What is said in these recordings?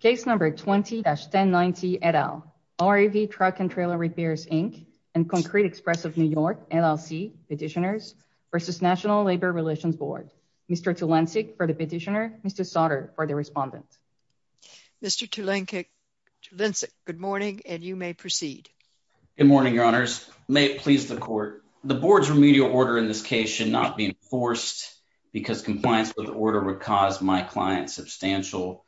Case number 20-1090 et al. RAV Truck and Trailer Repairs, Inc. and Concrete Express of New York, LLC Petitioners v. National Labor Relations Board. Mr. Tulancic for the petitioner, Mr. Sautter for the respondent. Mr. Tulancic, good morning and you may proceed. Good morning, your honors. May it please the court. The board's remedial order in this case should not be enforced because compliance with the order would cause my client substantial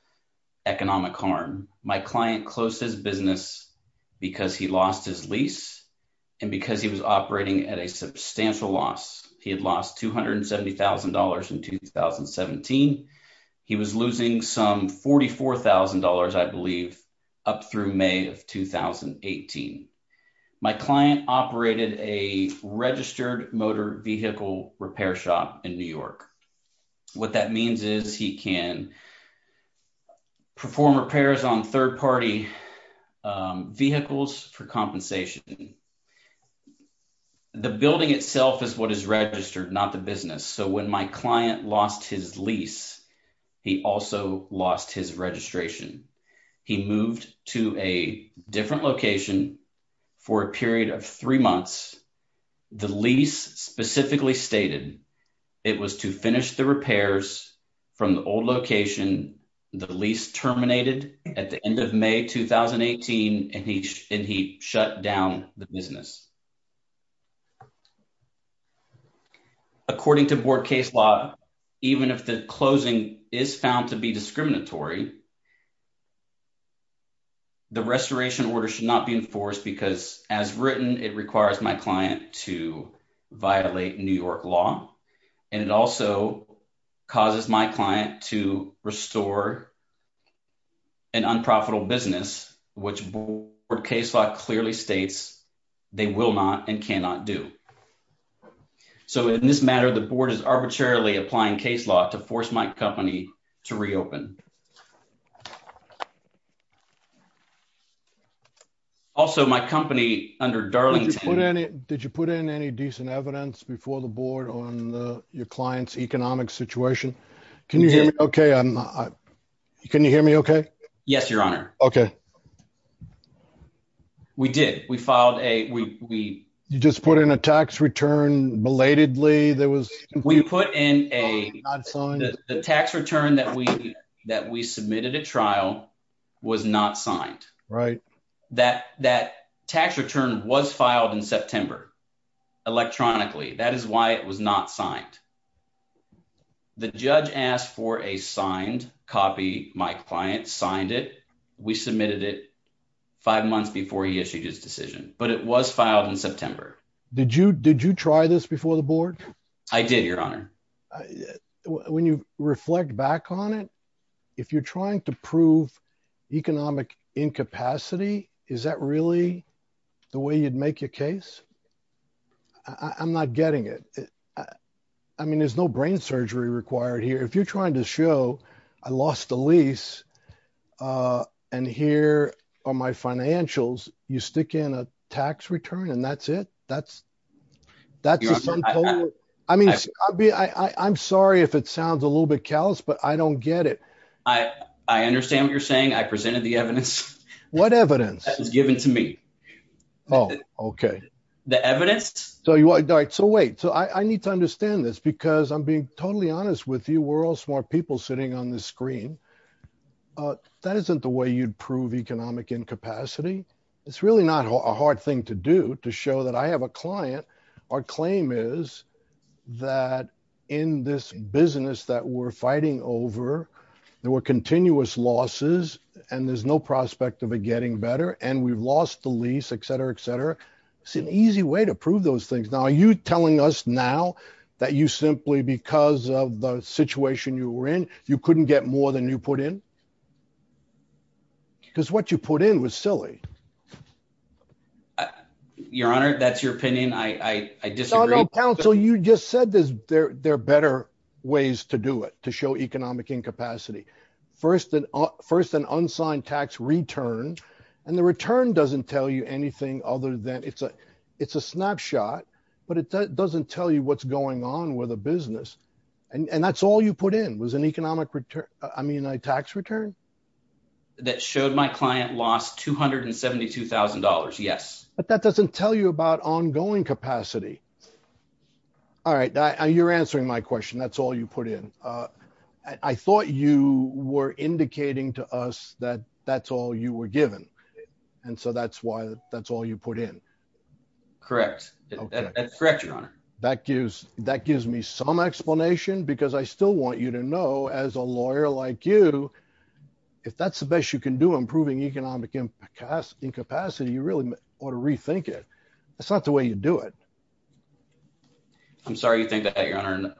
economic harm. My client closed his business because he lost his lease and because he was operating at a substantial loss. He had lost $270,000 in 2017. He was losing some $44,000, I believe, up through May of 2018. My client operated a registered motor vehicle repair shop in New York. What that means is he can perform repairs on third-party vehicles for compensation. The building itself is what is registered, not the business, so when my client lost his lease, he also lost his registration. He moved to a different location for a period of three months. The lease specifically stated it was to finish the repairs from the old location. The lease terminated at the end of May 2018 and he shut down the business. According to board case law, even if the closing is found to be discriminatory, the restoration order should not be enforced because, as written, it requires my client to violate New York law and it also causes my client to restore an unprofitable business, which board case law clearly states they will not and cannot do. So, in this matter, the board is arbitrarily applying case law to force my company to reopen. Also, my company under Darlington— Did you put in any decent evidence before the board on your client's economic situation? Can you hear me okay? Yes, Your Honor. Okay. We did. We filed a— You just put in a tax return belatedly that was— We put in a— The tax return that we submitted at trial was not signed. That tax return was filed in September electronically. That is why it was not signed. The judge asked for a signed copy. My client signed it. We submitted it five months before he issued his decision, but it was filed in September. Did you try this before the board? I did, Your Honor. When you reflect back on it, if you're trying to prove economic incapacity, is that really the way you'd make your case? I'm not getting it. I mean, there's no brain surgery required here. If you're trying to show I lost a lease and here are my financials, you stick in a tax return and that's it? I mean, I'm sorry if it sounds a little bit callous, but I don't get it. I understand what you're saying. I presented the evidence. What evidence? That was given to me. Oh, okay. The evidence. So wait, I need to understand this because I'm being totally honest with you. We're all smart people sitting on this screen. That isn't the way you'd prove economic incapacity. It's really not a hard thing to do to show that I have a client. Our claim is that in this business that we're fighting over, there were continuous losses and there's no prospect of it getting better and we've lost the lease, et cetera, et cetera. It's an easy way to prove those things. Now, are you telling us now that you simply, because of the situation you were in, you couldn't get more than you put in? Because what you put in was silly. Your Honor, that's your opinion. I disagree. No, no, counsel, you just said there are better ways to do it, to show economic incapacity. First, an unsigned tax return and the return doesn't tell you anything other than, it's a snapshot, but it doesn't tell you what's going on with a business. And that's all you put in, an economic return, I mean, a tax return? That showed my client lost $272,000. Yes. But that doesn't tell you about ongoing capacity. All right. You're answering my question. That's all you put in. I thought you were indicating to us that that's all you were given. And so that's why that's all you put in. Correct. That's correct, Your Honor. That gives me some explanation, because I still want you to know, as a lawyer like you, if that's the best you can do, improving economic incapacity, you really ought to rethink it. That's not the way you do it. I'm sorry you think that, Your Honor.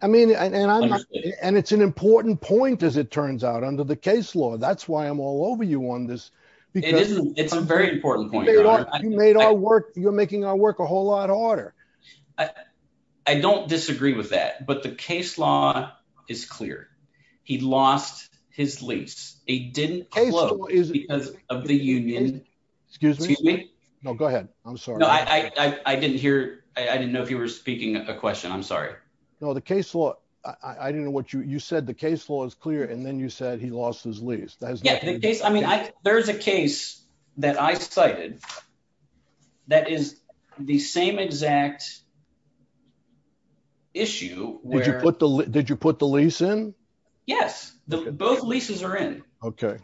And it's an important point, as it turns out, under the case law. That's why I'm all over you on this. It's a very important point. You made our work, you're making our work a whole lot harder. I don't disagree with that. But the case law is clear. He lost his lease. He didn't close because of the union. Excuse me? No, go ahead. I'm sorry. No, I didn't hear. I didn't know if you were speaking a question. I'm sorry. No, the case law. I didn't know what you said. The case law is clear. And then you said he lost his lease. Yeah, the case. I mean, there's a case that I cited that is the same exact issue. Did you put the lease in? Yes, both leases are in. Okay.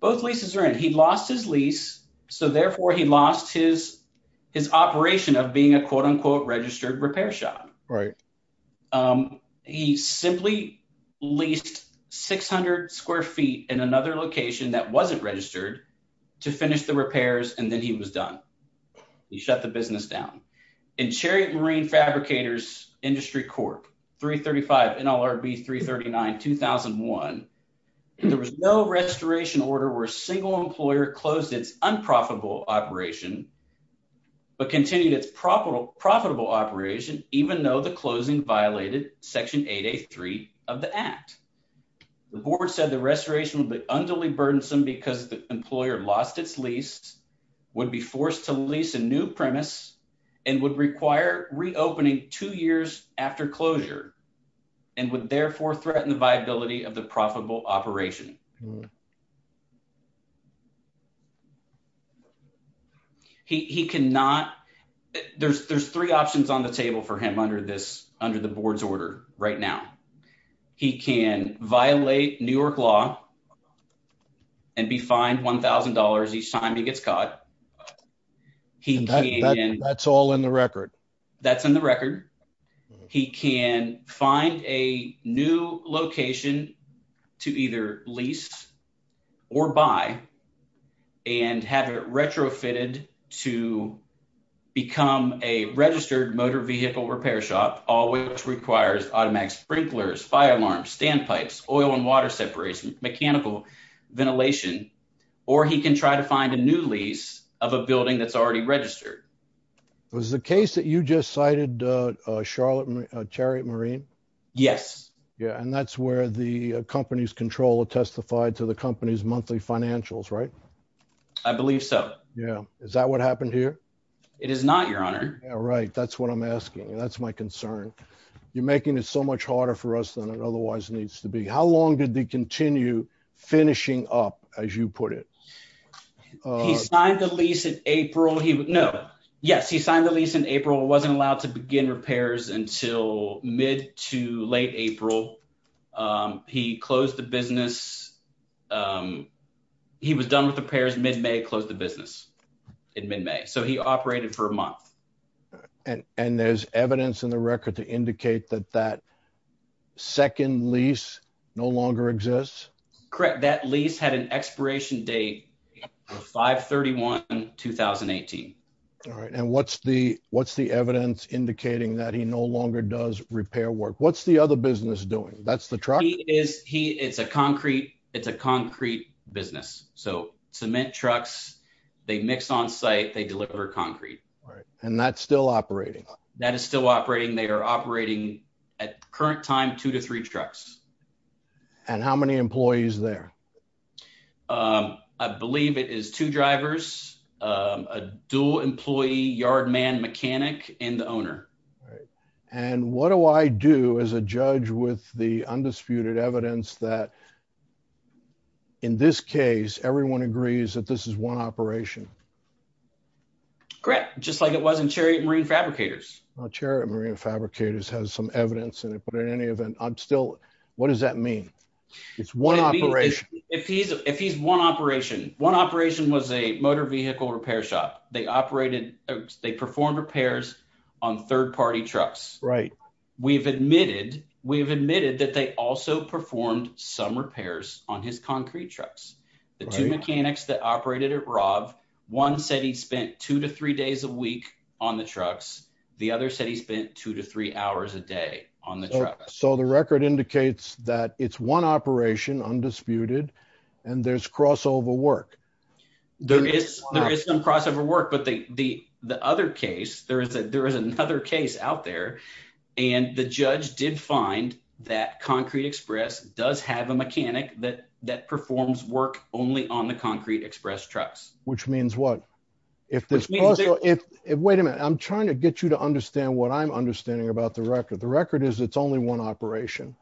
Both leases are in. He lost his lease. So therefore, he lost his operation of being a quote unquote, registered repair shop. Right. He simply leased 600 square feet in another location that wasn't registered to finish the repairs. And then he was done. He shut the business down. In Chariot Marine Fabricators Industry Corp. 335 NLRB 339 2001. There was no restoration order where a single operation, but continued its profitable operation, even though the closing violated Section 8A3 of the Act. The board said the restoration would be unduly burdensome because the employer lost its lease, would be forced to lease a new premise, and would require reopening two years after closure, and would therefore threaten the viability of the profitable operation. He cannot. There's three options on the table for him under the board's order right now. He can violate New York law and be fined $1,000 each time he gets caught. That's all in the record. That's in the record. He can find a new location to either lease or buy, and have it retrofitted to become a registered motor vehicle repair shop, all which requires automatic sprinklers, fire alarms, standpipes, oil and water separation, mechanical ventilation. Or he can try to find a new lease of a building that's already registered. Was the case that you just cited Chariot Marine? Yes. Yeah, and that's where the company's controller testified to the company's monthly financials, right? I believe so. Yeah. Is that what happened here? It is not, Your Honor. Yeah, right. That's what I'm asking. That's my concern. You're making it so much harder for us than it otherwise needs to be. How long did they continue finishing up, as you put it? He signed the lease in April. No, yes, he signed the lease in April, wasn't allowed to begin repairs until mid to late April. He closed the business. He was done with repairs mid-May, closed the business in mid-May, so he operated for a month. And there's evidence in the record to indicate that that second lease no longer exists? Correct. That lease had an expiration date of 5-31-2018. All right. And what's the evidence indicating that he no longer does repair work? What's the other business doing? That's the truck? It's a concrete business. So, cement trucks, they mix on site, they deliver concrete. Right. And that's still operating? That is still operating. They are operating, at the current time, two to three trucks. And how many employees there? I believe it is two drivers, a dual employee yard man mechanic, and the owner. And what do I do as a judge with the undisputed evidence that in this case, everyone agrees that this is one operation? Correct. Just like it was in Chariot Marine Fabricators. Chariot Marine Fabricators has some evidence in it, but in any event, I'm still... What does that mean? If he's one operation. One operation was a motor vehicle repair shop. They performed repairs on third-party trucks. We've admitted that they also performed some repairs on his concrete trucks. The two mechanics that operated it, Rob, one said he spent two to three days a week on the trucks. The other said he spent two to three hours a day on the truck. So the record indicates that it's one operation, undisputed, and there's crossover work. There is some crossover work, but the other case, there is another case out there, and the judge did find that Concrete Express does have a mechanic that performs work only on the Concrete Express trucks. Which means what? Wait a minute. I'm trying to get you to understand what I'm understanding about the record. The one operation.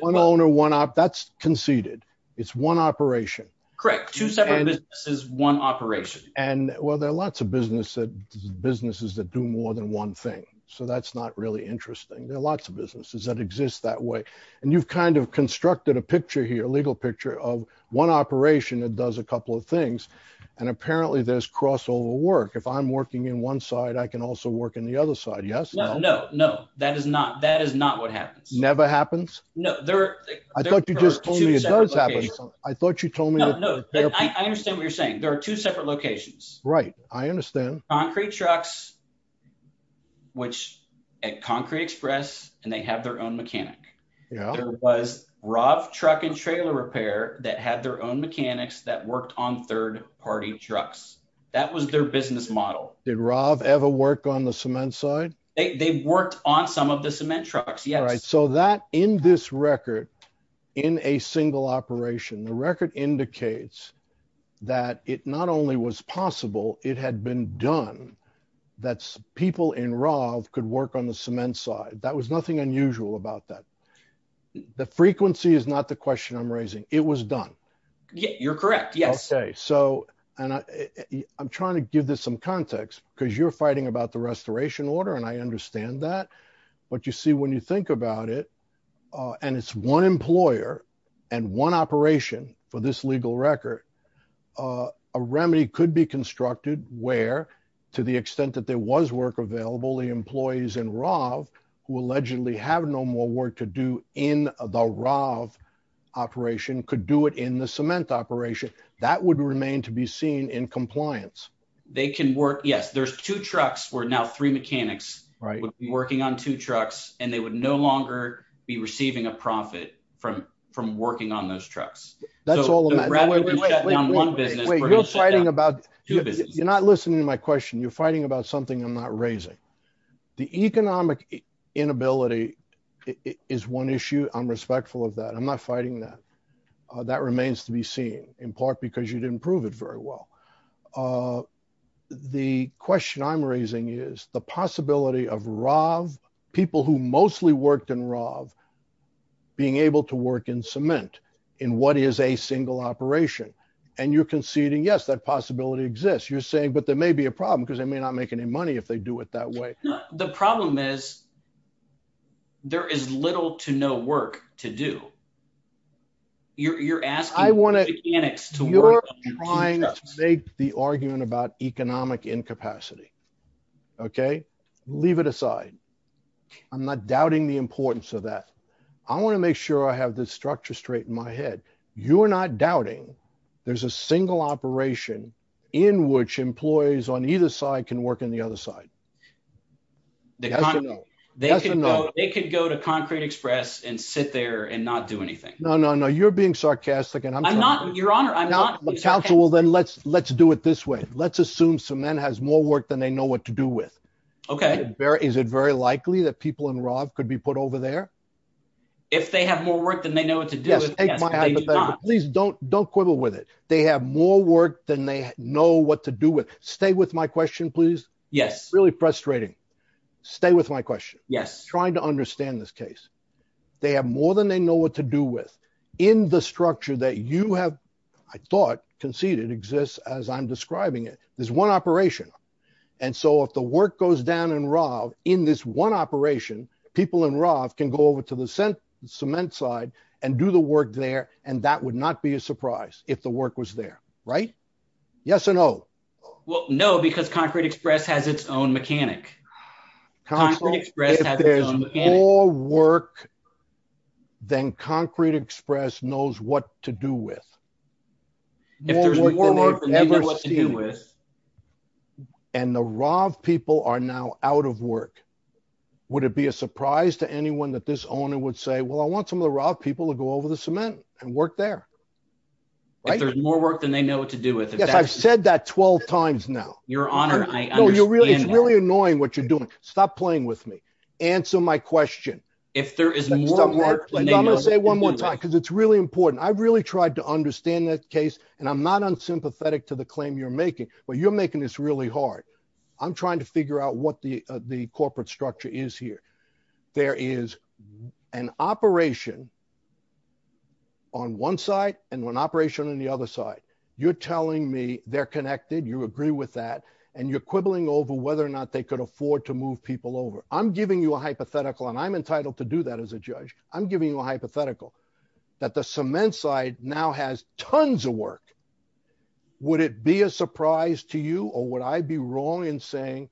One owner, one... That's conceded. It's one operation. Correct. Two separate businesses, one operation. And well, there are lots of businesses that do more than one thing, so that's not really interesting. There are lots of businesses that exist that way. And you've kind of constructed a picture here, a legal picture of one operation that does a couple of things, and apparently there's crossover work. If I'm working in one side, I can also work in the other side. Yes? No, no. That is not what happens. Never happens? I thought you just told me it does happen. I thought you told me... No, no. I understand what you're saying. There are two separate locations. Right. I understand. Concrete trucks, which at Concrete Express, and they have their own mechanic. There was Rav Truck and Trailer Repair that had their own mechanics that worked on third party trucks. That was their business model. Did Rav ever work on the cement side? They've worked on some of the cement trucks. Yes. All right. So that in this record, in a single operation, the record indicates that it not only was possible, it had been done that people in Rav could work on the cement side. That was nothing unusual about that. The frequency is not the question I'm raising. It was done. You're correct. Yes. Okay. So, and I'm trying to give this some context because you're fighting about the restoration order, and I understand that. But you see, when you think about it, and it's one employer and one operation for this legal record, a remedy could be constructed where, to the extent that there was work available, the employees in Rav who allegedly have no more work to do in the Rav operation could do it in the cement operation. That would remain to be seen in compliance. They can work. Yes. There's two trucks where now three mechanics would be working on two trucks, and they would no longer be receiving a profit from working on those trucks. That's all the matter. Rather than shutting down one business, we're going to shut down two businesses. You're not listening to my question. You're fighting about something I'm not raising. The economic inability is one issue. I'm respectful of that. I'm not fighting that. That remains to be seen, in part because you didn't prove it very well. The question I'm raising is the possibility of Rav, people who mostly worked in Rav, being able to work in cement in what is a single operation. You're conceding, yes, that possibility exists. You're saying, but there may be a problem because they may not make any money if they do it that way. No. The problem is there is little to no work to do. You're asking mechanics to work on two trucks. Make the argument about economic incapacity. Leave it aside. I'm not doubting the importance of that. I want to make sure I have this structure straight in my head. You're not doubting there's a single operation in which employees on either side can work on the other side. They could go to Concrete Express and sit there and not do anything. No, no, no. You're being sarcastic. Your Honor, I'm not. If I'm a counsel, then let's do it this way. Let's assume cement has more work than they know what to do with. Is it very likely that people in Rav could be put over there? If they have more work than they know what to do with, yes, but they do not. Please don't quibble with it. They have more work than they know what to do with. Stay with my question, please. It's really frustrating. Stay with my question. I'm trying to understand this case. They have more than they know what to do with. In the structure that you have, I thought, conceded exists as I'm describing it, there's one operation. If the work goes down in Rav, in this one operation, people in Rav can go over to the cement side and do the work there, and that would not be a surprise if the work was there. Yes or no? No, because Concrete Express has its own mechanic. Concrete Express has its own mechanic. If there's more work than Concrete Express knows what to do with. If there's more work than they know what to do with. And the Rav people are now out of work, would it be a surprise to anyone that this owner would say, well, I want some of the Rav people to go over the cement and work there, right? If there's more work than they know what to do with. Yes, I've said that 12 times now. Your Honor, I understand that. No, it's really annoying what you're doing. Stop playing with me. Answer my question. If there is more work than they know what to do with. I'm going to say it one more time, because it's really important. I've really tried to understand that case, and I'm not unsympathetic to the claim you're making, but you're making this really hard. I'm trying to figure out what the corporate structure is here. There is an operation on one side and one operation on the other side. You're telling me they're and you're quibbling over whether or not they could afford to move people over. I'm giving you a hypothetical, and I'm entitled to do that as a judge. I'm giving you a hypothetical that the cement side now has tons of work. Would it be a surprise to you or would I be wrong in saying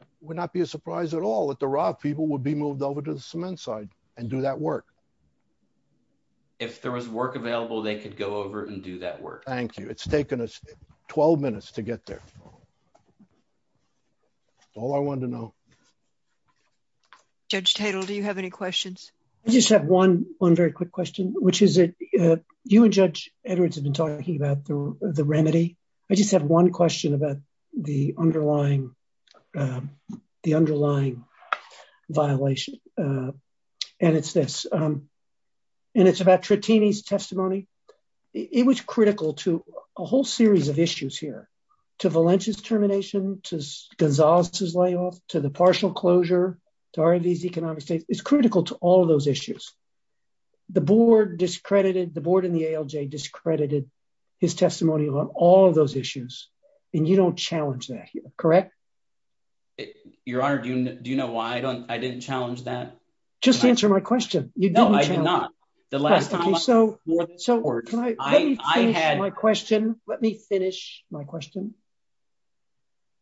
it would not be a surprise at all that the Rav people would be moved over to the cement side and do that work? If there was work available, they could go over and do that work. Thank you. It's taken us 12 minutes to get there. That's all I wanted to know. Judge Tatel, do you have any questions? I just have one very quick question, which is you and Judge Edwards have been talking about the remedy. I just have one question about the underlying violation, and it's this. It's about Trattini's testimony. It was critical to a whole series of issues here, to Valencia's termination, to Gonzalez's layoff, to the partial closure, to Rav's economic state. It's critical to all of those issues. The board and the ALJ discredited his testimony on all of those issues, and you don't challenge that here, correct? Your Honor, do you know why I didn't challenge that? Just answer my question. No, I do not. Let me finish my question.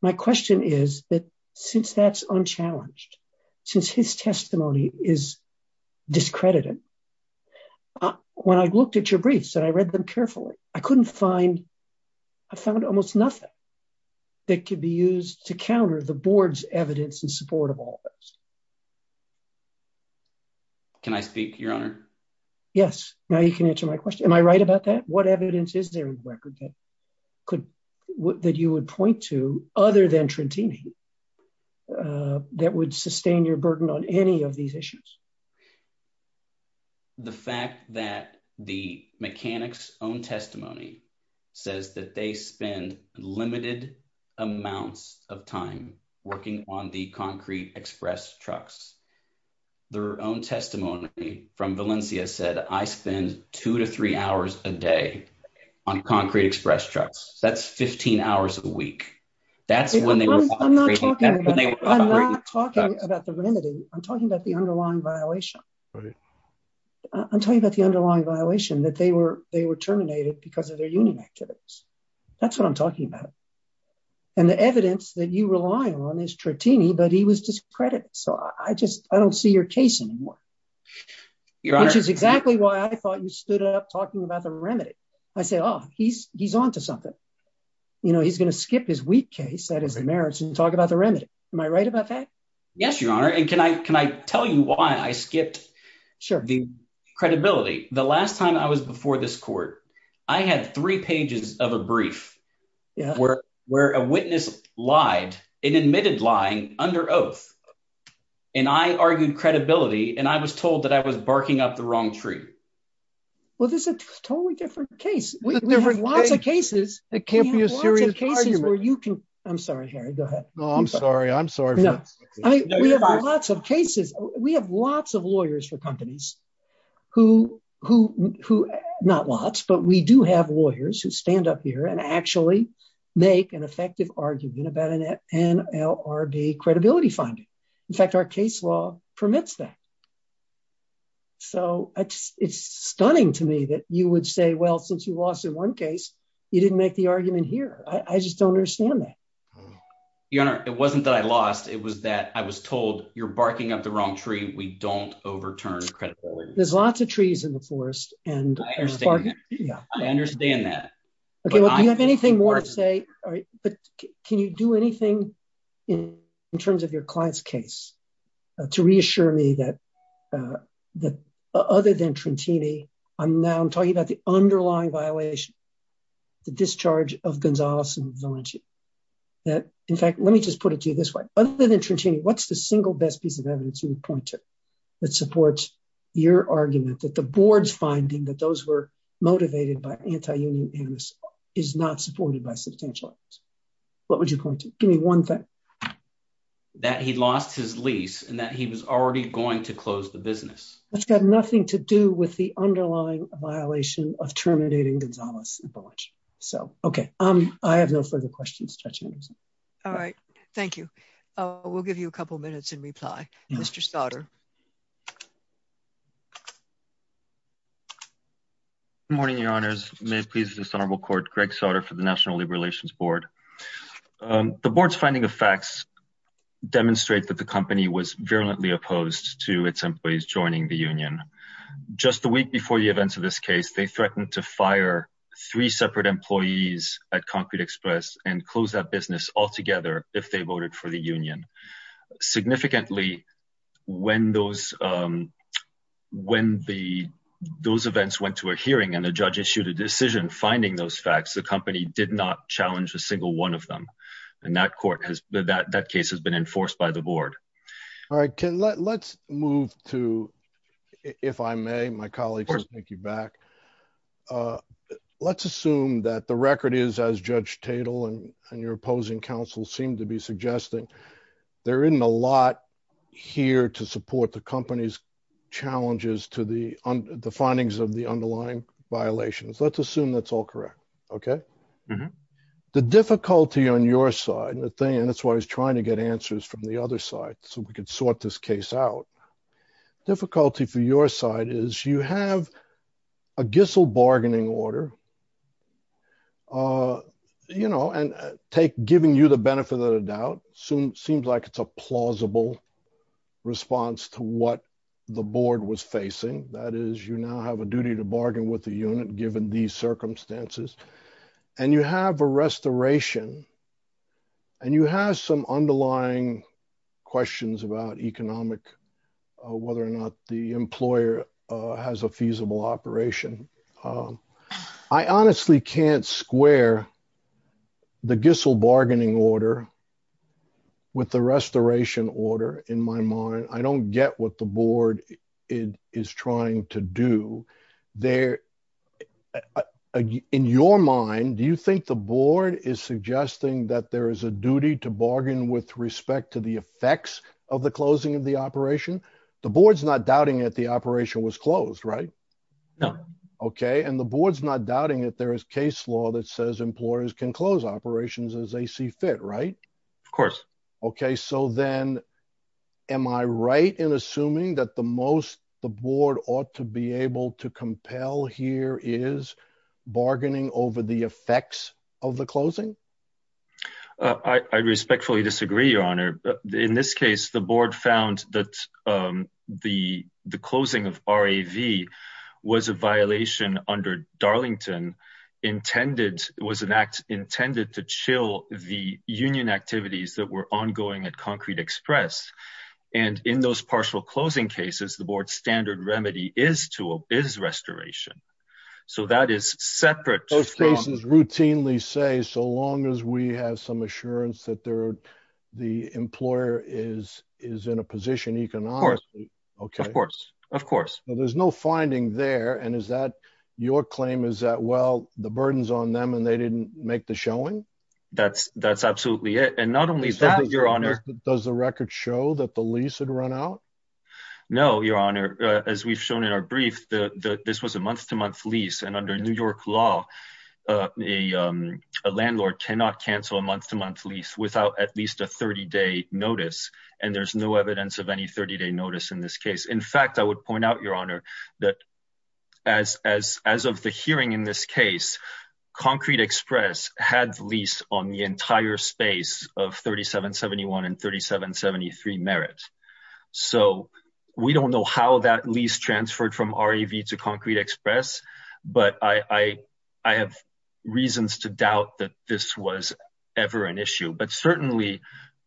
My question is that since that's unchallenged, since his testimony is discredited, when I looked at your briefs and I read them carefully, I found almost nothing that could be used to counter the board's evidence in support of all this. Can I speak, Your Honor? Yes. Now you can answer my question. Am I right about that? What evidence is there in the record that you would point to other than Trattini that would sustain your burden on any of these issues? The fact that the mechanic's own testimony says that they spend limited amounts of time working on the Concrete Express trucks. Their own testimony from Valencia said, I spend two to three hours a day on Concrete Express trucks. That's 15 hours a week. I'm not talking about the remedy. I'm talking about the underlying violation. I'm talking about the underlying violation that they were terminated because of their activities. That's what I'm talking about. And the evidence that you rely on is Trattini, but he was discredited. So I just, I don't see your case anymore, which is exactly why I thought you stood up talking about the remedy. I said, oh, he's, he's onto something. You know, he's going to skip his weak case that is the merits and talk about the remedy. Am I right about that? Yes, Your Honor. And can I, can I tell you why I skipped the credibility? The last time I was before this court, I had three pages of a brief where a witness lied and admitted lying under oath. And I argued credibility. And I was told that I was barking up the wrong tree. Well, this is a totally different case. We have lots of cases. It can't be a serious argument. I'm sorry, Harry, go ahead. No, I'm sorry. I'm sorry. I mean, we have lots of cases. We have lots of lawyers for companies who, who, who not lots, but we do have lawyers who stand up here and actually make an effective argument about an NLRB credibility finding. In fact, our case law permits that. So it's stunning to me that you would say, well, since you lost in one case, you didn't make the argument here. I just don't understand that. Your Honor, it wasn't that I lost. It was that I was told you're barking up the wrong tree. We don't overturn credibility. There's lots of trees in the forest and I understand that. Okay. Well, do you have anything more to say? All right. But can you do anything in terms of your client's case to reassure me that, uh, that other than Trentini, I'm now I'm talking about the underlying violation, the discharge of Gonzales and Valenti that in fact, let me just put it to you this way. Other than Trentini, what's the single best piece of evidence you would point to that supports your argument that the board's finding that those were motivated by anti-union animus is not supported by substantial evidence. What would you point to? Give me one thing. That he lost his lease and that he was already going to close the business. That's got nothing to do with the underlying violation of terminating Gonzales. So, okay. Um, I have no further questions. All right. Thank you. We'll give you a couple of minutes in reply. Mr. Stoddard. Morning, your honors. May it please this honorable court, Greg Sauter for the national labor relations board. Um, the board's finding of facts demonstrate that the company was virulently opposed to its employees joining the union just the week before the events of this case, they threatened to fire three separate employees at concrete express and close that business altogether. If they voted for the union significantly when those, um, when the, those events went to a hearing and the judge issued a decision, finding those facts, the company did not challenge a single one of them. And that court has that that case has enforced by the board. All right, Ken, let's move to, if I may, my colleagues, thank you back. Uh, let's assume that the record is as judge Tatel and your opposing counsel seem to be suggesting there isn't a lot here to support the company's challenges to the findings of the underlying violations. Let's assume that's all correct. Okay. The difficulty on your side, the thing, that's why I was trying to get answers from the other side. So we could sort this case out difficulty for your side is you have a Gissel bargaining order, uh, you know, and take giving you the benefit of the doubt soon seems like it's a plausible response to what the board was facing. That is, you now have a duty to bargain with the unit given these circumstances and you have a some underlying questions about economic, uh, whether or not the employer, uh, has a feasible operation. Um, I honestly can't square the Gissel bargaining order with the restoration order in my mind. I don't get what the board is trying to do there. Uh, in your mind, do you think the board is suggesting that there is a duty to bargain with respect to the effects of the closing of the operation? The board's not doubting it. The operation was closed, right? No. Okay. And the board's not doubting it. There is case law that says employers can close operations as they see fit, right? Of course. Okay. So then am I right in assuming that the most, the board ought to be able to compel here is bargaining over the effects of the closing? Uh, I, I respectfully disagree, your honor, but in this case, the board found that, um, the, the closing of RAV was a violation under Darlington intended. It was an act intended to chill the union activities that were ongoing at concrete express. And in those partial closing cases, the board standard remedy is to a biz restoration. So that is separate. Those cases routinely say, so long as we have some assurance that there are, the employer is, is in a position economically. Okay. Of course. Well, there's no finding there. And is that your claim is that, well, the burdens on them and they does the record show that the lease had run out? No, your honor, as we've shown in our brief, the, the, this was a month to month lease and under New York law, uh, a, um, a landlord cannot cancel a month to month lease without at least a 30 day notice. And there's no evidence of any 30 day notice in this case. In fact, I would point out your honor that as, as, as of the hearing in this concrete express had lease on the entire space of 3771 and 3773 merits. So we don't know how that lease transferred from RAV to concrete express, but I, I, I have reasons to doubt that this was ever an issue, but certainly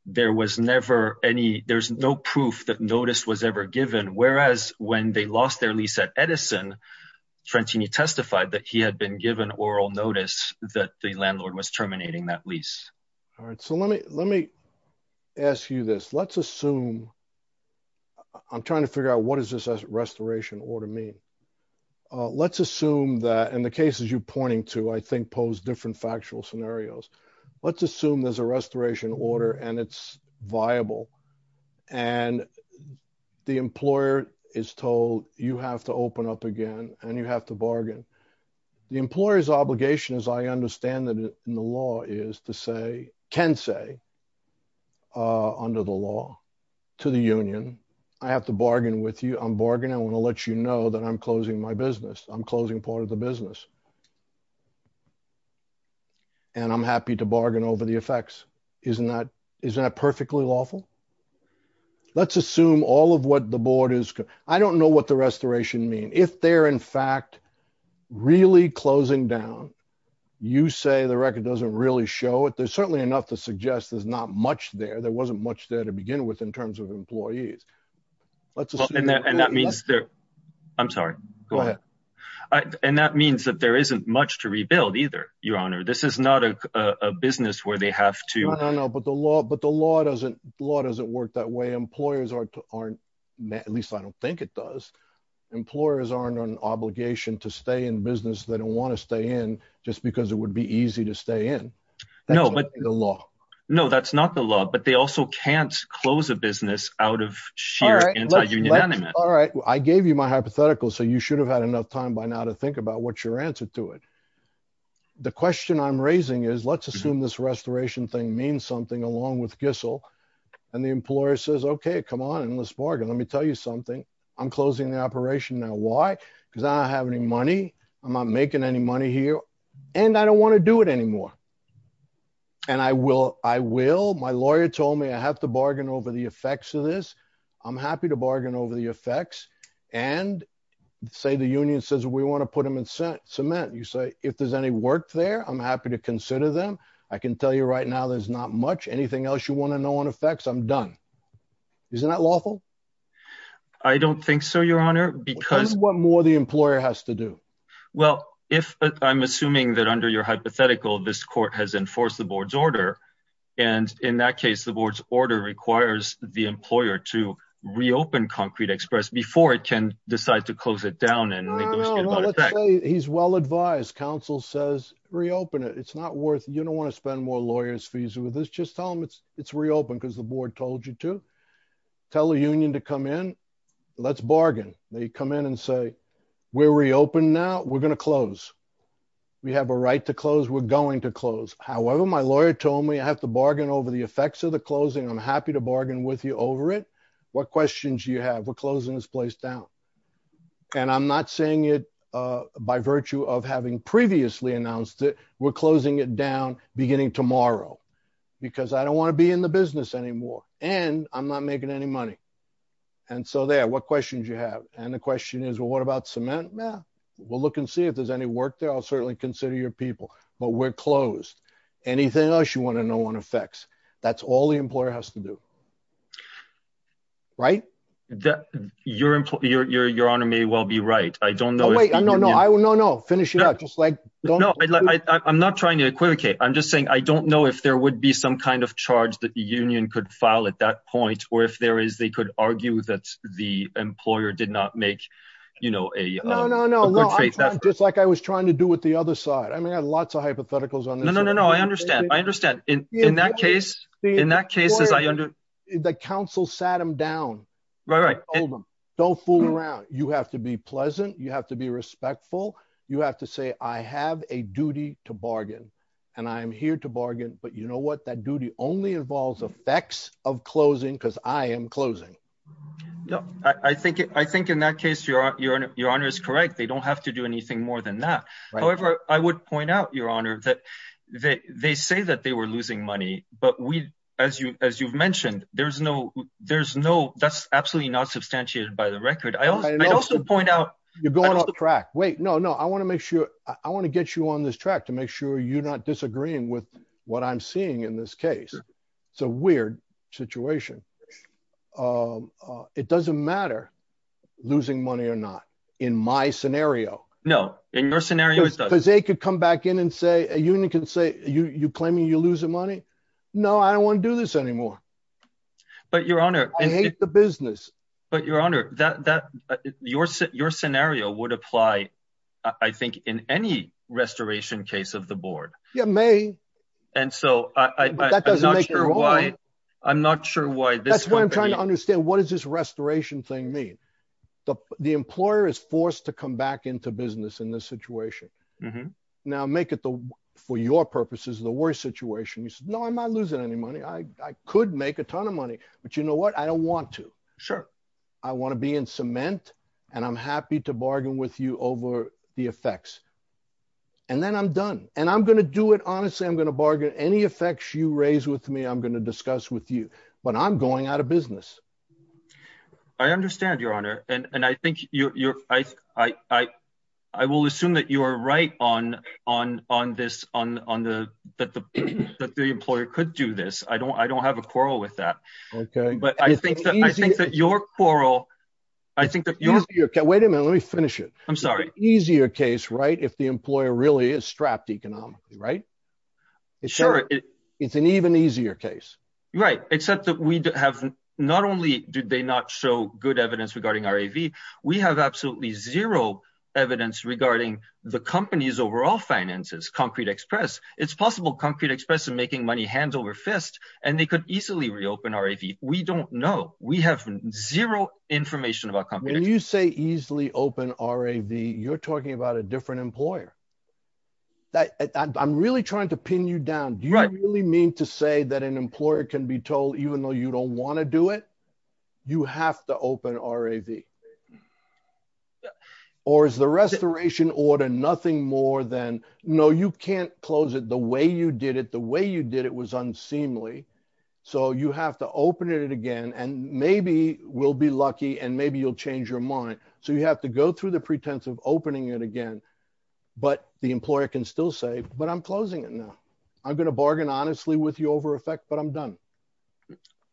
there was never any, there's no proof that notice was ever given. Whereas when they lost their lease at Edison, Trentini testified that he had been given oral notice that the landlord was terminating that lease. All right. So let me, let me ask you this. Let's assume I'm trying to figure out what does this restoration order mean? Uh, let's assume that in the cases you pointing to, I think pose different factual scenarios. Let's assume there's a restoration order and it's viable. And the employer is told you have to open up again, and you have to bargain. The employer's obligation is I understand that in the law is to say, can say, uh, under the law to the union, I have to bargain with you. I'm bargaining. I want to let you know that I'm closing my business. I'm closing part of the business. And I'm happy to bargain over the effects. Isn't that, isn't that perfectly lawful? Let's assume all of what the board is. I don't know what the restoration mean. If they're in fact, really closing down, you say the record doesn't really show it. There's certainly enough to suggest there's not much there. There wasn't much there to begin with in terms of employees. Let's assume. And that means there, I'm sorry, go ahead. And that means that there's not much to rebuild either your honor. This is not a business where they have to, but the law, but the law doesn't law doesn't work that way. Employers aren't, aren't, at least I don't think it does. Employers aren't on obligation to stay in business. They don't want to stay in just because it would be easy to stay in the law. No, that's not the law, but they also can't close a business out of sheer. All right. I gave you my hypothetical. So you should have had enough time by now to think about what's your answer to it. The question I'm raising is let's assume this restoration thing means something along with Gissel and the employer says, okay, come on and let's bargain. Let me tell you something. I'm closing the operation now. Why? Because I don't have any money. I'm not making any money here and I don't want to do it anymore. And I will, I will. My lawyer told me I have to bargain over the effects of this. I'm happy to bargain over the effects and say, the union says we want to put them in cement. You say, if there's any work there, I'm happy to consider them. I can tell you right now, there's not much, anything else you want to know on effects, I'm done. Isn't that lawful? I don't think so, your honor, because what more the employer has to do? Well, if I'm assuming that under your hypothetical, this court has enforced the board's order. And in that case, the board's order requires the employer to reopen Concrete Express before it can decide to close it down. He's well-advised. Counsel says reopen it. It's not worth, you don't want to spend more lawyers fees with this. Just tell them it's reopened because the board told you to. Tell the union to come in. Let's bargain. They come in and say, we're reopened now. We're going to close. We have a right to close. We're going to close. However, my lawyer told me I have to bargain over the effects of the closing. I'm happy to bargain with you over it. What questions do you have? We're closing this place down. And I'm not saying it by virtue of having previously announced it. We're closing it down beginning tomorrow because I don't want to be in the business anymore and I'm not making any money. And so there, what questions do you have? And the question is, well, what about cement? Well, we'll look and see if there's any work there. I'll certainly consider your people, but we're closed. Anything else you want to know on effects? That's all the employer has to do. Right. Your employer, your honor may well be right. I don't know. No, no, no. I will. No, no. Finish it up. Just like, no, I'm not trying to equivocate. I'm just saying, I don't know if there would be some kind of charge that the union could file at that point, or if there is, they could argue that the employer did not make, you know, a, no, no, no. Just like I was trying to do with the other side. I mean, I had lots of hypotheticals on. No, no, no, no. I understand. I understand. In that case, in that case, the council sat him down, right? Don't fool around. You have to be pleasant. You have to be respectful. You have to say, I have a duty to bargain and I'm here to bargain. But you know what? That duty only involves effects of closing because I am closing. I think, I think in that case, your honor is correct. They don't have to anything more than that. However, I would point out your honor that they say that they were losing money, but we, as you, as you've mentioned, there's no, there's no, that's absolutely not substantiated by the record. I also point out you're going off the track. Wait, no, no. I want to make sure I want to get you on this track to make sure you're not disagreeing with what I'm seeing in this case. It's a weird situation. It doesn't matter losing money or not in my scenario. No, in your scenario, they could come back in and say, a union can say you, you claiming you're losing money. No, I don't want to do this anymore. But your honor, I hate the business, but your honor, that, that your, your scenario would apply. I think in any restoration case of the board, yeah, may. And so I'm not sure why, I'm not sure why that's what I'm trying to understand. What does this restoration thing mean? The employer is forced to come back into business in this situation. Now make it the, for your purposes, the worst situation. You said, no, I'm not losing any money. I could make a ton of money, but you know what? I don't want to. Sure. I want to be in cement and I'm happy to bargain with you over the effects and then I'm done and I'm going to do it. Honestly, I'm going to bargain any effects you raise with me. I'm going to discuss with you, but I'm going out of business. I understand your honor. And, and I think your, your, I, I, I will assume that you are right on, on, on this, on, on the, that the, that the employer could do this. I don't, I don't have a quarrel with that, but I think that I think that your quarrel, I think that wait a minute, let me finish it. I'm sorry. Easier case, right? If the employer really is strapped economically, right? Sure. It's an even easier case, right? Except that we have not only did they not show good evidence regarding RAV, we have absolutely zero evidence regarding the company's overall finances, Concrete Express. It's possible Concrete Express is making money hands over fist and they could easily reopen RAV. We don't know. We have zero information about companies. When you say easily open RAV, you're talking about a different employer. That I'm really trying to pin you down. Do you really mean to say that an employer can be told, even though you don't want to do it, you have to open RAV or is the restoration order, nothing more than, no, you can't close it the way you did it, the way you did it was unseemly. So you have to open it again and maybe we'll be lucky and maybe you'll change your mind. So you have to go through the pretense of opening it again, but the employer can still say, but I'm closing it now. I'm going to bargain honestly with you over effect, but I'm done.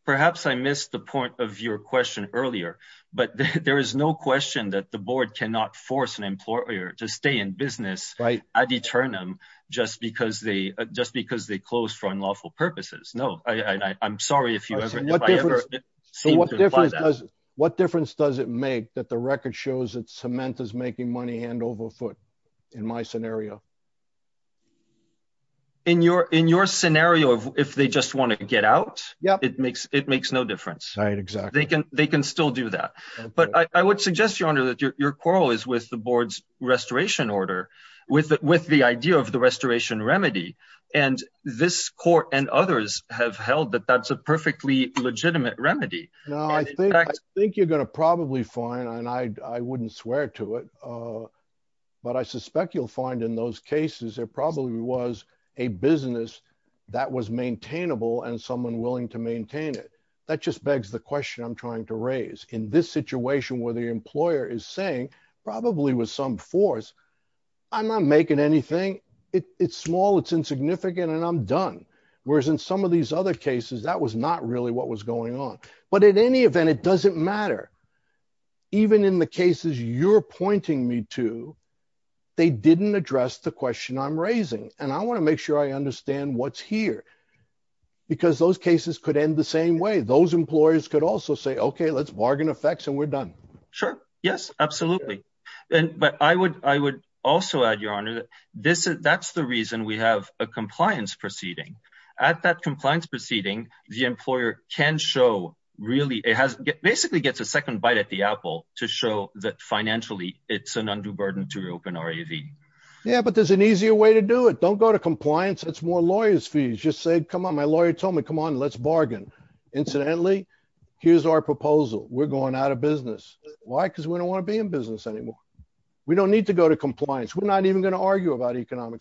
Perhaps I missed the point of your question earlier, but there is no question that the board cannot force an employer to stay in business ad aeternum just because they just because they closed for unlawful purposes. No, I'm sorry if you ever, if I ever seem to. What difference does it make that the record shows that Cement is making money hand over foot in my scenario? In your, in your scenario of if they just want to get out, it makes, it makes no difference. They can, they can still do that. But I would suggest your honor that your quarrel is with the board's restoration order with, with the idea of the restoration remedy and this court and others have held that that's a perfectly legitimate remedy. No, I think, I think you're going to probably find, and I, I wouldn't swear to it. But I suspect you'll find in those cases, there probably was a business that was maintainable and someone willing to maintain it. That just begs the question I'm trying to raise in this situation where the employer is saying, probably with some force, I'm not making anything. It's small, it's insignificant, and I'm done. Whereas in some of these other cases, that was not really what was going on, but at any event, it doesn't matter. Even in the cases you're pointing me to, they didn't address the question I'm raising. And I want to make sure I understand what's here because those cases could end the same way. Those employers could also say, okay, let's bargain effects and we're done. Sure. Yes, absolutely. And, but I would, I would also add your honor that this is, that's the reason we have a compliance proceeding at that show. Really? It has basically gets a second bite at the Apple to show that financially it's an undue burden to reopen our AV. Yeah, but there's an easier way to do it. Don't go to compliance. That's more lawyers fees. Just say, come on. My lawyer told me, come on, let's bargain. Incidentally, here's our proposal. We're going out of business. Why? Because we don't want to be in business anymore. We don't need to go to compliance. We're not even going to argue about and then saying,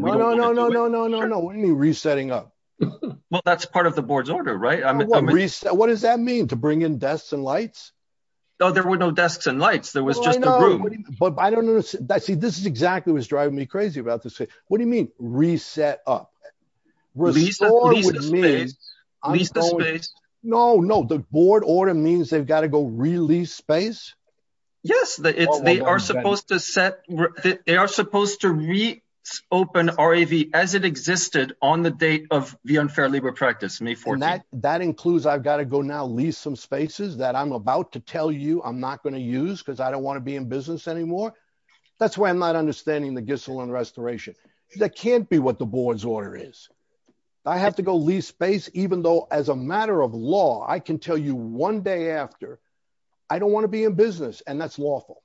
no, no, no, no, no, no, no, no. What do you mean? Resetting up? Well, that's part of the board's order, right? I'm reset. What does that mean? To bring in desks and lights? No, there were no desks and lights. There was just, but I don't know that see, this is exactly what's driving me crazy about this. What do you mean? Reset up? No, no. The board order means they've got to go release space. Yes. They are supposed to set, they are supposed to reopen RAV as it existed on the date of the unfair labor practice. That includes, I've got to go now leave some spaces that I'm about to tell you I'm not going to use because I don't want to be in business anymore. That's why I'm not understanding the Gissel and restoration. That can't be what the board's order is. I have to go leave space, even though as a matter of law, I can tell you one day after I don't want to be in business and that's lawful,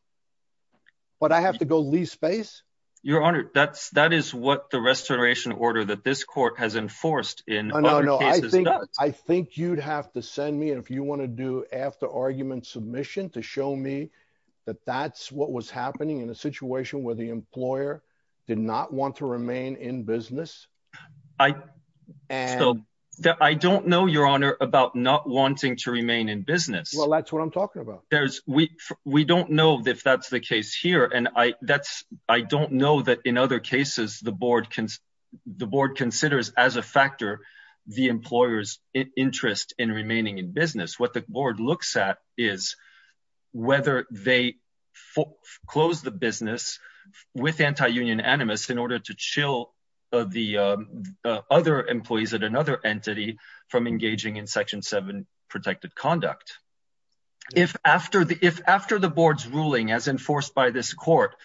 but I have to go leave space. Your honor. That's, that is what the restoration order that this court has enforced in. I think you'd have to send me if you want to do after argument submission to show me that that's what was happening in a situation where the employer did not want to remain in business. I, I don't know your honor about not wanting to remain in business. I don't know if that's the case here. And I that's, I don't know that in other cases, the board can, the board considers as a factor, the employer's interest in remaining in business. What the board looks at is whether they close the business with anti-union animus in order to chill the other employees at another entity from engaging in section seven protected conduct. If after the, if after the board's ruling as enforced by this court,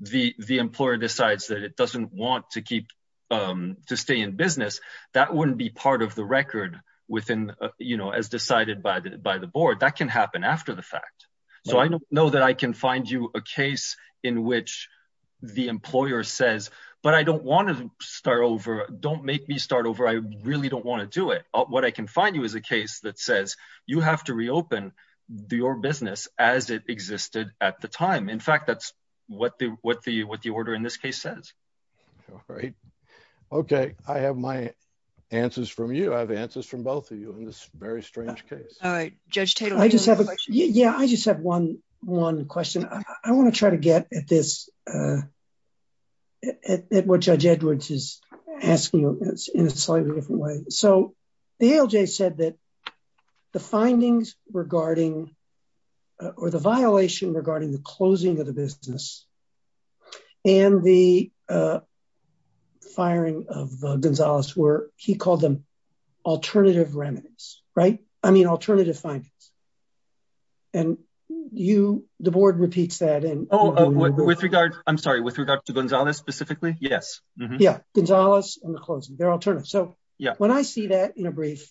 the, the employer decides that it doesn't want to keep to stay in business, that wouldn't be part of the record within, you know, as decided by the, by the board that can happen after the fact. So I know that I can find you a case in which the employer says, but I don't want to start over. Don't make me start over. I really don't want to do it. What I can find you as a case that says you have to reopen your business as it existed at the time. In fact, that's what the, what the, what the order in this case says. All right. Okay. I have my answers from you. I have answers from both of you in this very strange case. All right. Judge Taylor. I just have a, yeah, I just have one, one question. I want to try to get at this, at what judge Edwards is asking in a slightly different way. So the ALJ said that the findings regarding, or the violation regarding the closing of the business and the firing of Gonzalez were, he called them alternative remedies, right? I mean, Oh, with regard, I'm sorry. With regard to Gonzalez specifically. Yes. Yeah. Gonzalez and the closing, they're alternative. So when I see that in a brief,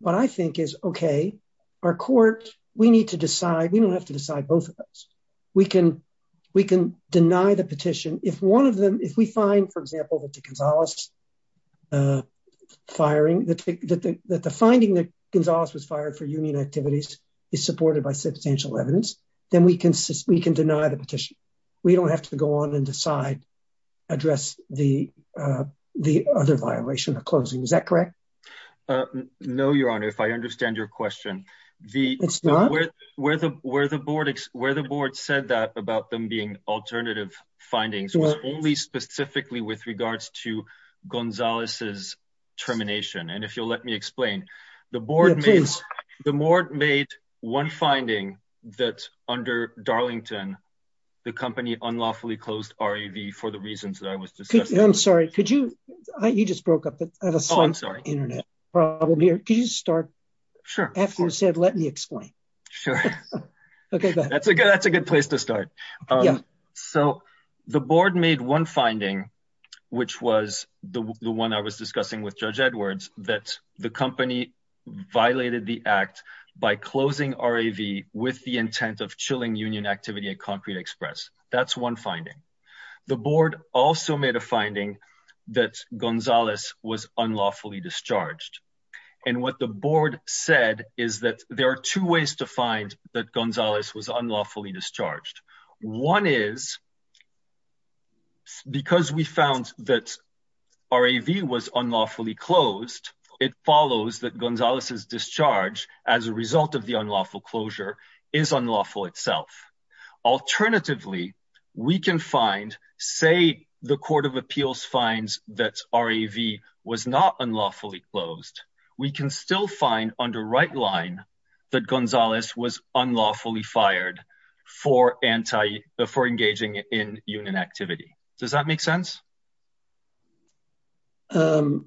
what I think is okay, our court, we need to decide. We don't have to decide both of those. We can, we can deny the petition. If one of them, if we find, for example, that the Gonzalez firing, that the, that the, that the finding that Gonzalez was fired for union activities is supported by substantial evidence, then we can, we can deny the petition. We don't have to go on and decide, address the, the other violation of closing. Is that correct? No, your honor. If I understand your question, the, where the, where the board, where the board said that about them being alternative findings was only specifically with regards to Gonzalez's termination. And if you'll let me explain the board, the board made one finding that under Darlington, the company unlawfully closed REV for the reasons that I was just, I'm sorry. Could you, I, you just broke up the internet problem here. Could you start after you said, let me explain. Sure. Okay. That's a good, that's a good place to start. So the board made one finding, which was the one I was discussing with judge Edwards, that the company violated the act by closing RAV with the intent of chilling union activity at concrete express. That's one finding. The board also made a finding that Gonzalez was unlawfully discharged. And what the board said is that there are two ways to find that Gonzalez was unlawfully closed. It follows that Gonzalez's discharge as a result of the unlawful closure is unlawful itself. Alternatively, we can find, say the court of appeals finds that REV was not unlawfully closed. We can still find under right line that Gonzalez was unlawfully fired for anti before engaging in union activity. Does that make sense? Um,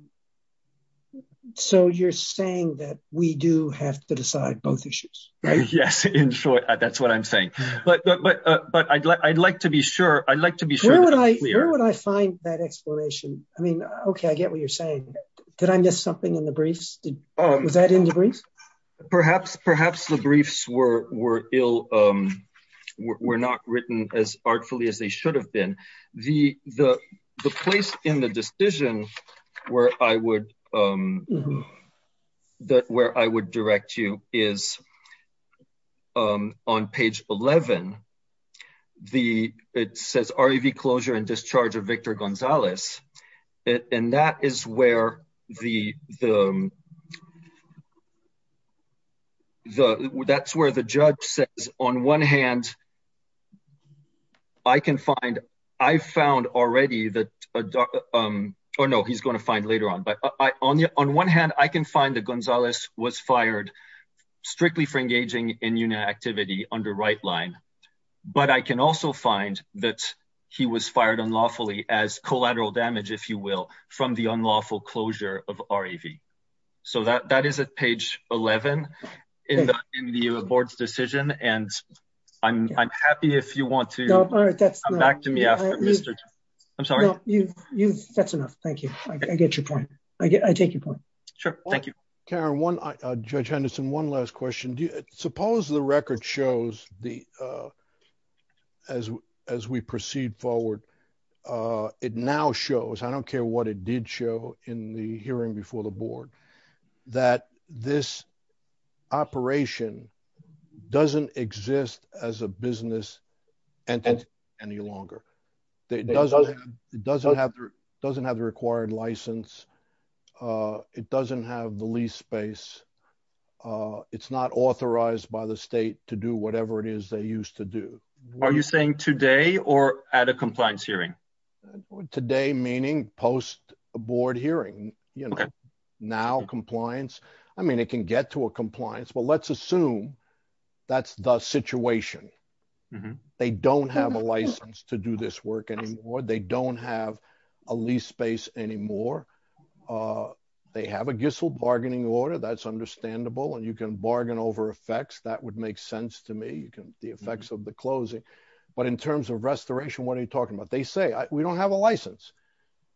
so you're saying that we do have to decide both issues, right? Yes. In short, that's what I'm saying. But, but, uh, but I'd like, I'd like to be sure I'd like to be sure that I find that explanation. I mean, okay. I get what you're saying. Did I miss something in the briefs? Was that in the briefs? Perhaps, perhaps the briefs were, were ill, um, were not written as artfully as they should have been. The, the, the place in the decision where I would, um, that where I would direct you is, um, on page 11, the, it says REV closure and discharge of I can find, I've found already that, um, or no, he's going to find later on, but I, on the, on one hand, I can find the Gonzalez was fired strictly for engaging in unit activity under right line, but I can also find that he was fired unlawfully as collateral damage, if you will, from the unlawful closure of REV. So that, that is at page 11 in the, in the board's decision. And I'm, I'm happy if you want to come back to me after Mr. I'm sorry, that's enough. Thank you. I get your point. I get, I take your point. Sure. Thank you, Karen. One judge Henderson. One last question. Do you suppose the record shows the, uh, as, as we proceed forward, uh, it now shows, I don't care what it did show in the hearing before the board that this operation doesn't exist as a business and any longer, it doesn't, it doesn't have, it doesn't have the required license. Uh, it doesn't have the lease space. Uh, it's not authorized by the state to do whatever it is they used to do. Are you saying today or at a compliance hearing today, meaning post a board hearing, you know, now compliance, I mean, it can get to a compliance, but let's assume that's the situation. They don't have a license to do this work anymore. They don't have a lease space anymore. Uh, they have a Gissel bargaining order. That's understandable. And you can bargain over effects. That would make sense to me. You can, the effects of the closing, but in terms of restoration, what are you talking about? They say we don't have a license.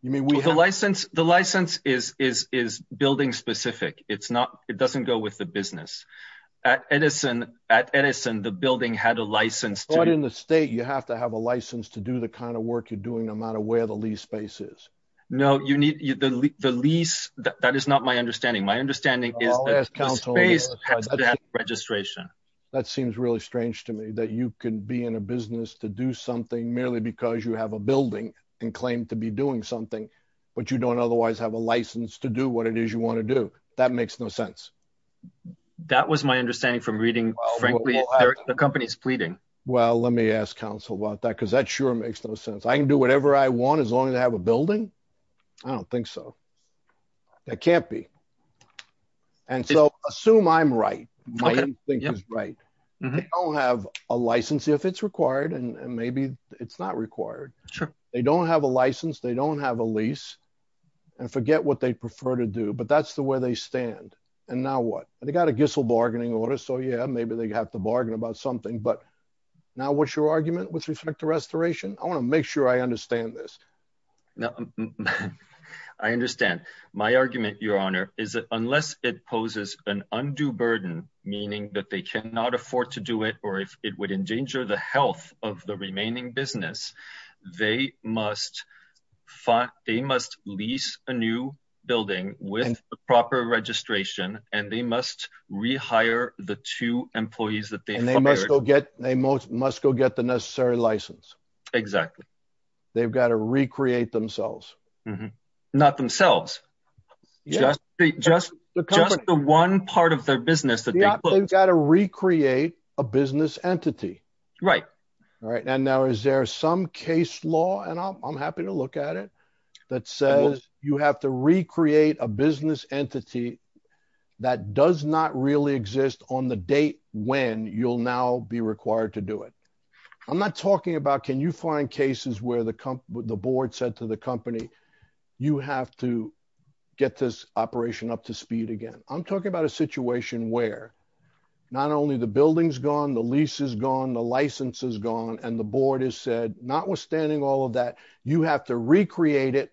You mean we have the license? The license is, is, is building specific. It's not, it doesn't go with the business at Edison, at Edison, the building had a license in the state. You have to have a license to do the kind of work you're doing no matter where the lease spaces. No, you need the lease. That is not my understanding. My understanding is registration. That seems really strange to me that you can be in a business to do something merely because you have a building and claim to be doing something, but you don't otherwise have a license to do what it is you want to do. That makes no sense. That was my understanding from reading, frankly, the company's pleading. Well, let me ask counsel about that. Cause that sure makes no sense. I can do whatever I want as long as I have a building. I don't think so. That can't be. And so assume I'm right. My thing is right. I'll have a license if it's required and maybe it's not required. Sure. They don't have a license. They don't have a lease and forget what they prefer to do, but that's the way they stand. And now what they got a Gissel bargaining order. So yeah, maybe they have to bargain about something, but now what's your argument with respect to restoration. I want to make sure I understand this. No, I understand my argument. Your honor is that unless it poses an meaning that they cannot afford to do it, or if it would endanger the health of the remaining business, they must fight. They must lease a new building with the proper registration and they must rehire the two employees that they must go get. They most must go get the necessary license. Exactly. They've got to recreate themselves, not themselves. Just the, just the, just the one part of their business that they've got to recreate a business entity. Right. Right. And now is there some case law and I'm happy to look at it that says you have to recreate a business entity that does not really exist on the date when you'll now be required to do it. I'm not talking about, can you find cases where the company, the board said to the company, you have to get this up to speed again. I'm talking about a situation where not only the building's gone, the lease is gone, the license is gone. And the board has said, not withstanding all of that, you have to recreate it,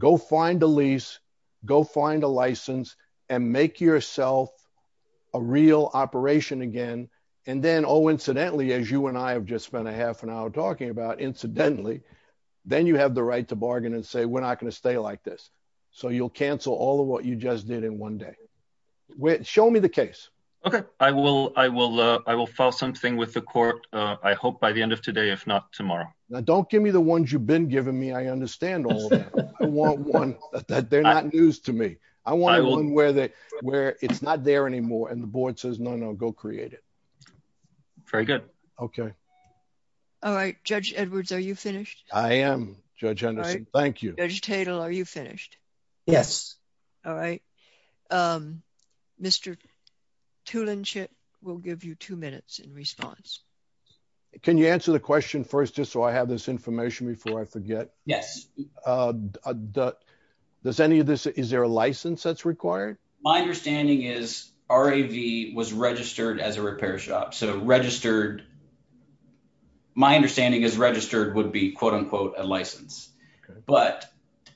go find a lease, go find a license and make yourself a real operation again. And then, oh, incidentally, as you and I have just spent a half an hour talking about incidentally, then you have the right to bargain and say, we're not going to stay like this. So you'll cancel all of what you just did in one day. Show me the case. Okay. I will file something with the court. I hope by the end of today, if not tomorrow. Now, don't give me the ones you've been giving me. I understand all of that. I want one that they're not news to me. I want one where it's not there anymore. And the board says, no, no, go create it. Very good. Okay. All right. Judge Edwards, are you finished? I am, Judge Henderson. Thank you. Judge Tatel, are you finished? Yes. All right. Mr. Tulenship will give you two minutes in response. Can you answer the question first, just so I have this information before I forget? Yes. Does any of this, is there a license that's required? My understanding is RAV was registered as a repair shop. So registered, my understanding is registered would be quote unquote, a license. But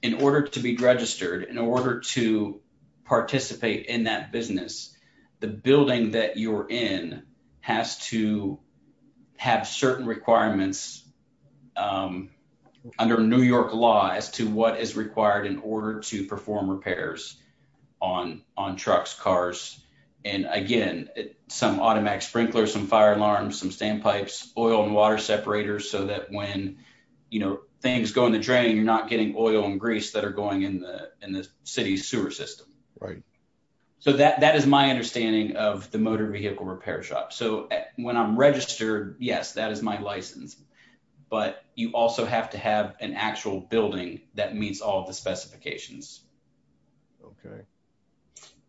in order to be registered, in order to participate in that business, the building that you're in has to have certain requirements under New York law as to what is required in order to perform repairs on trucks, cars, and again, some automatic sprinklers, some fire alarms, some standpipes, oil and water separators. So that when, you know, things go in the drain, you're not getting oil and grease that are going in the, in the city sewer system. Right. So that, that is my understanding of the motor vehicle repair shop. So when I'm registered, yes, that is my license, but you also have to have an actual building that meets all of the specifications. Okay.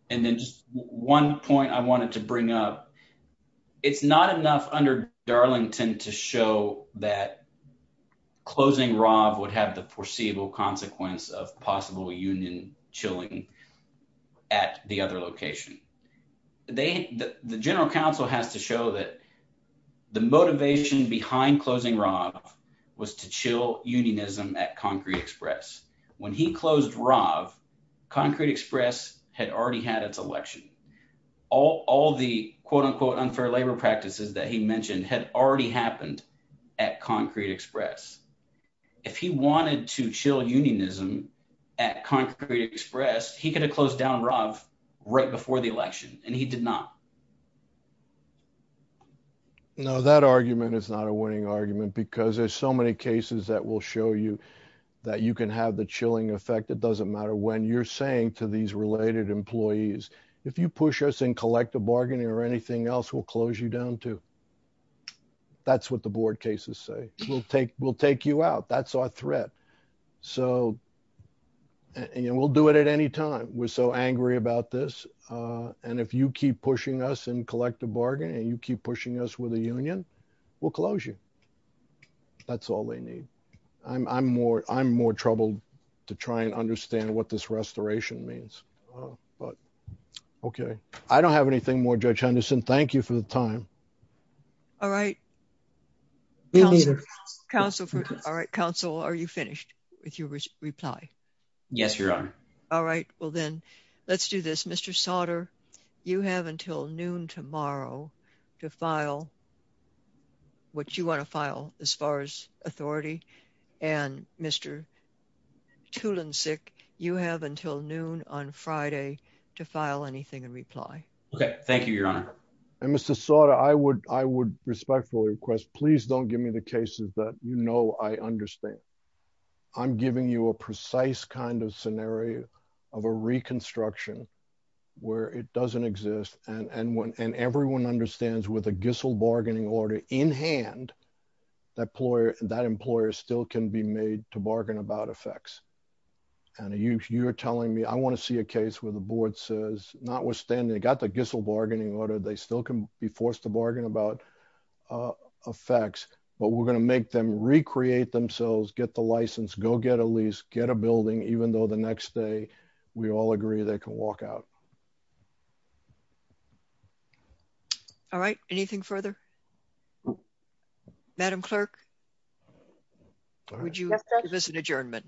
And then just one point I wanted to bring up, it's not enough under Darlington to show that closing RAV would have the foreseeable consequence of possible union chilling at the other location. They, the general counsel has to show that the motivation behind closing RAV was to chill unionism at Concrete Express. When he closed RAV, Concrete Express had already had its election. All, all the quote unquote unfair labor practices that he mentioned had already happened at Concrete Express. If he wanted to chill unionism at Concrete Express, he could have closed down RAV right before the election. And he did not. No, that argument is not a winning argument because there's so many cases that will show you that you can have the chilling effect. It doesn't matter when you're saying to these related employees, if you push us in collective bargaining or anything else, we'll close you down too. That's what the board cases say. We'll take, we'll take you out. That's our threat. So, and we'll do it at any time. We're so angry about this. And if you keep pushing us in collective bargaining and you keep pushing us with a union, we'll close you. That's all they need. I'm, I'm more, I'm more troubled to try and understand what this restoration means, but okay. I don't have anything more, Judge Henderson. Thank you for the time. All right. All right. Counsel, are you finished with your reply? Yes, Your Honor. All right. Well then let's do this. Mr. Sauter, you have until noon tomorrow to file what you want to file as far as authority and Mr. Tulansic, you have until noon on Friday to file anything in reply. Okay. Thank you, Your Honor. And Mr. Sauter, I would, I would respectfully request, please don't give me the cases that you know I understand. I'm giving you a precise kind of scenario of a reconstruction where it doesn't exist. And, and when, and everyone understands with a Gissel bargaining order in hand, that employer, that employer still can be made to bargain about effects. And you, you're telling me, I want to see a case where the board says, notwithstanding they got the Gissel bargaining order, they still can be forced to bargain about effects, but we're going to make them recreate themselves, get the license, go get a lease, get a building, even though the next day we all agree they can walk out. All right. Anything further? Madam Clerk, would you give us an adjournment?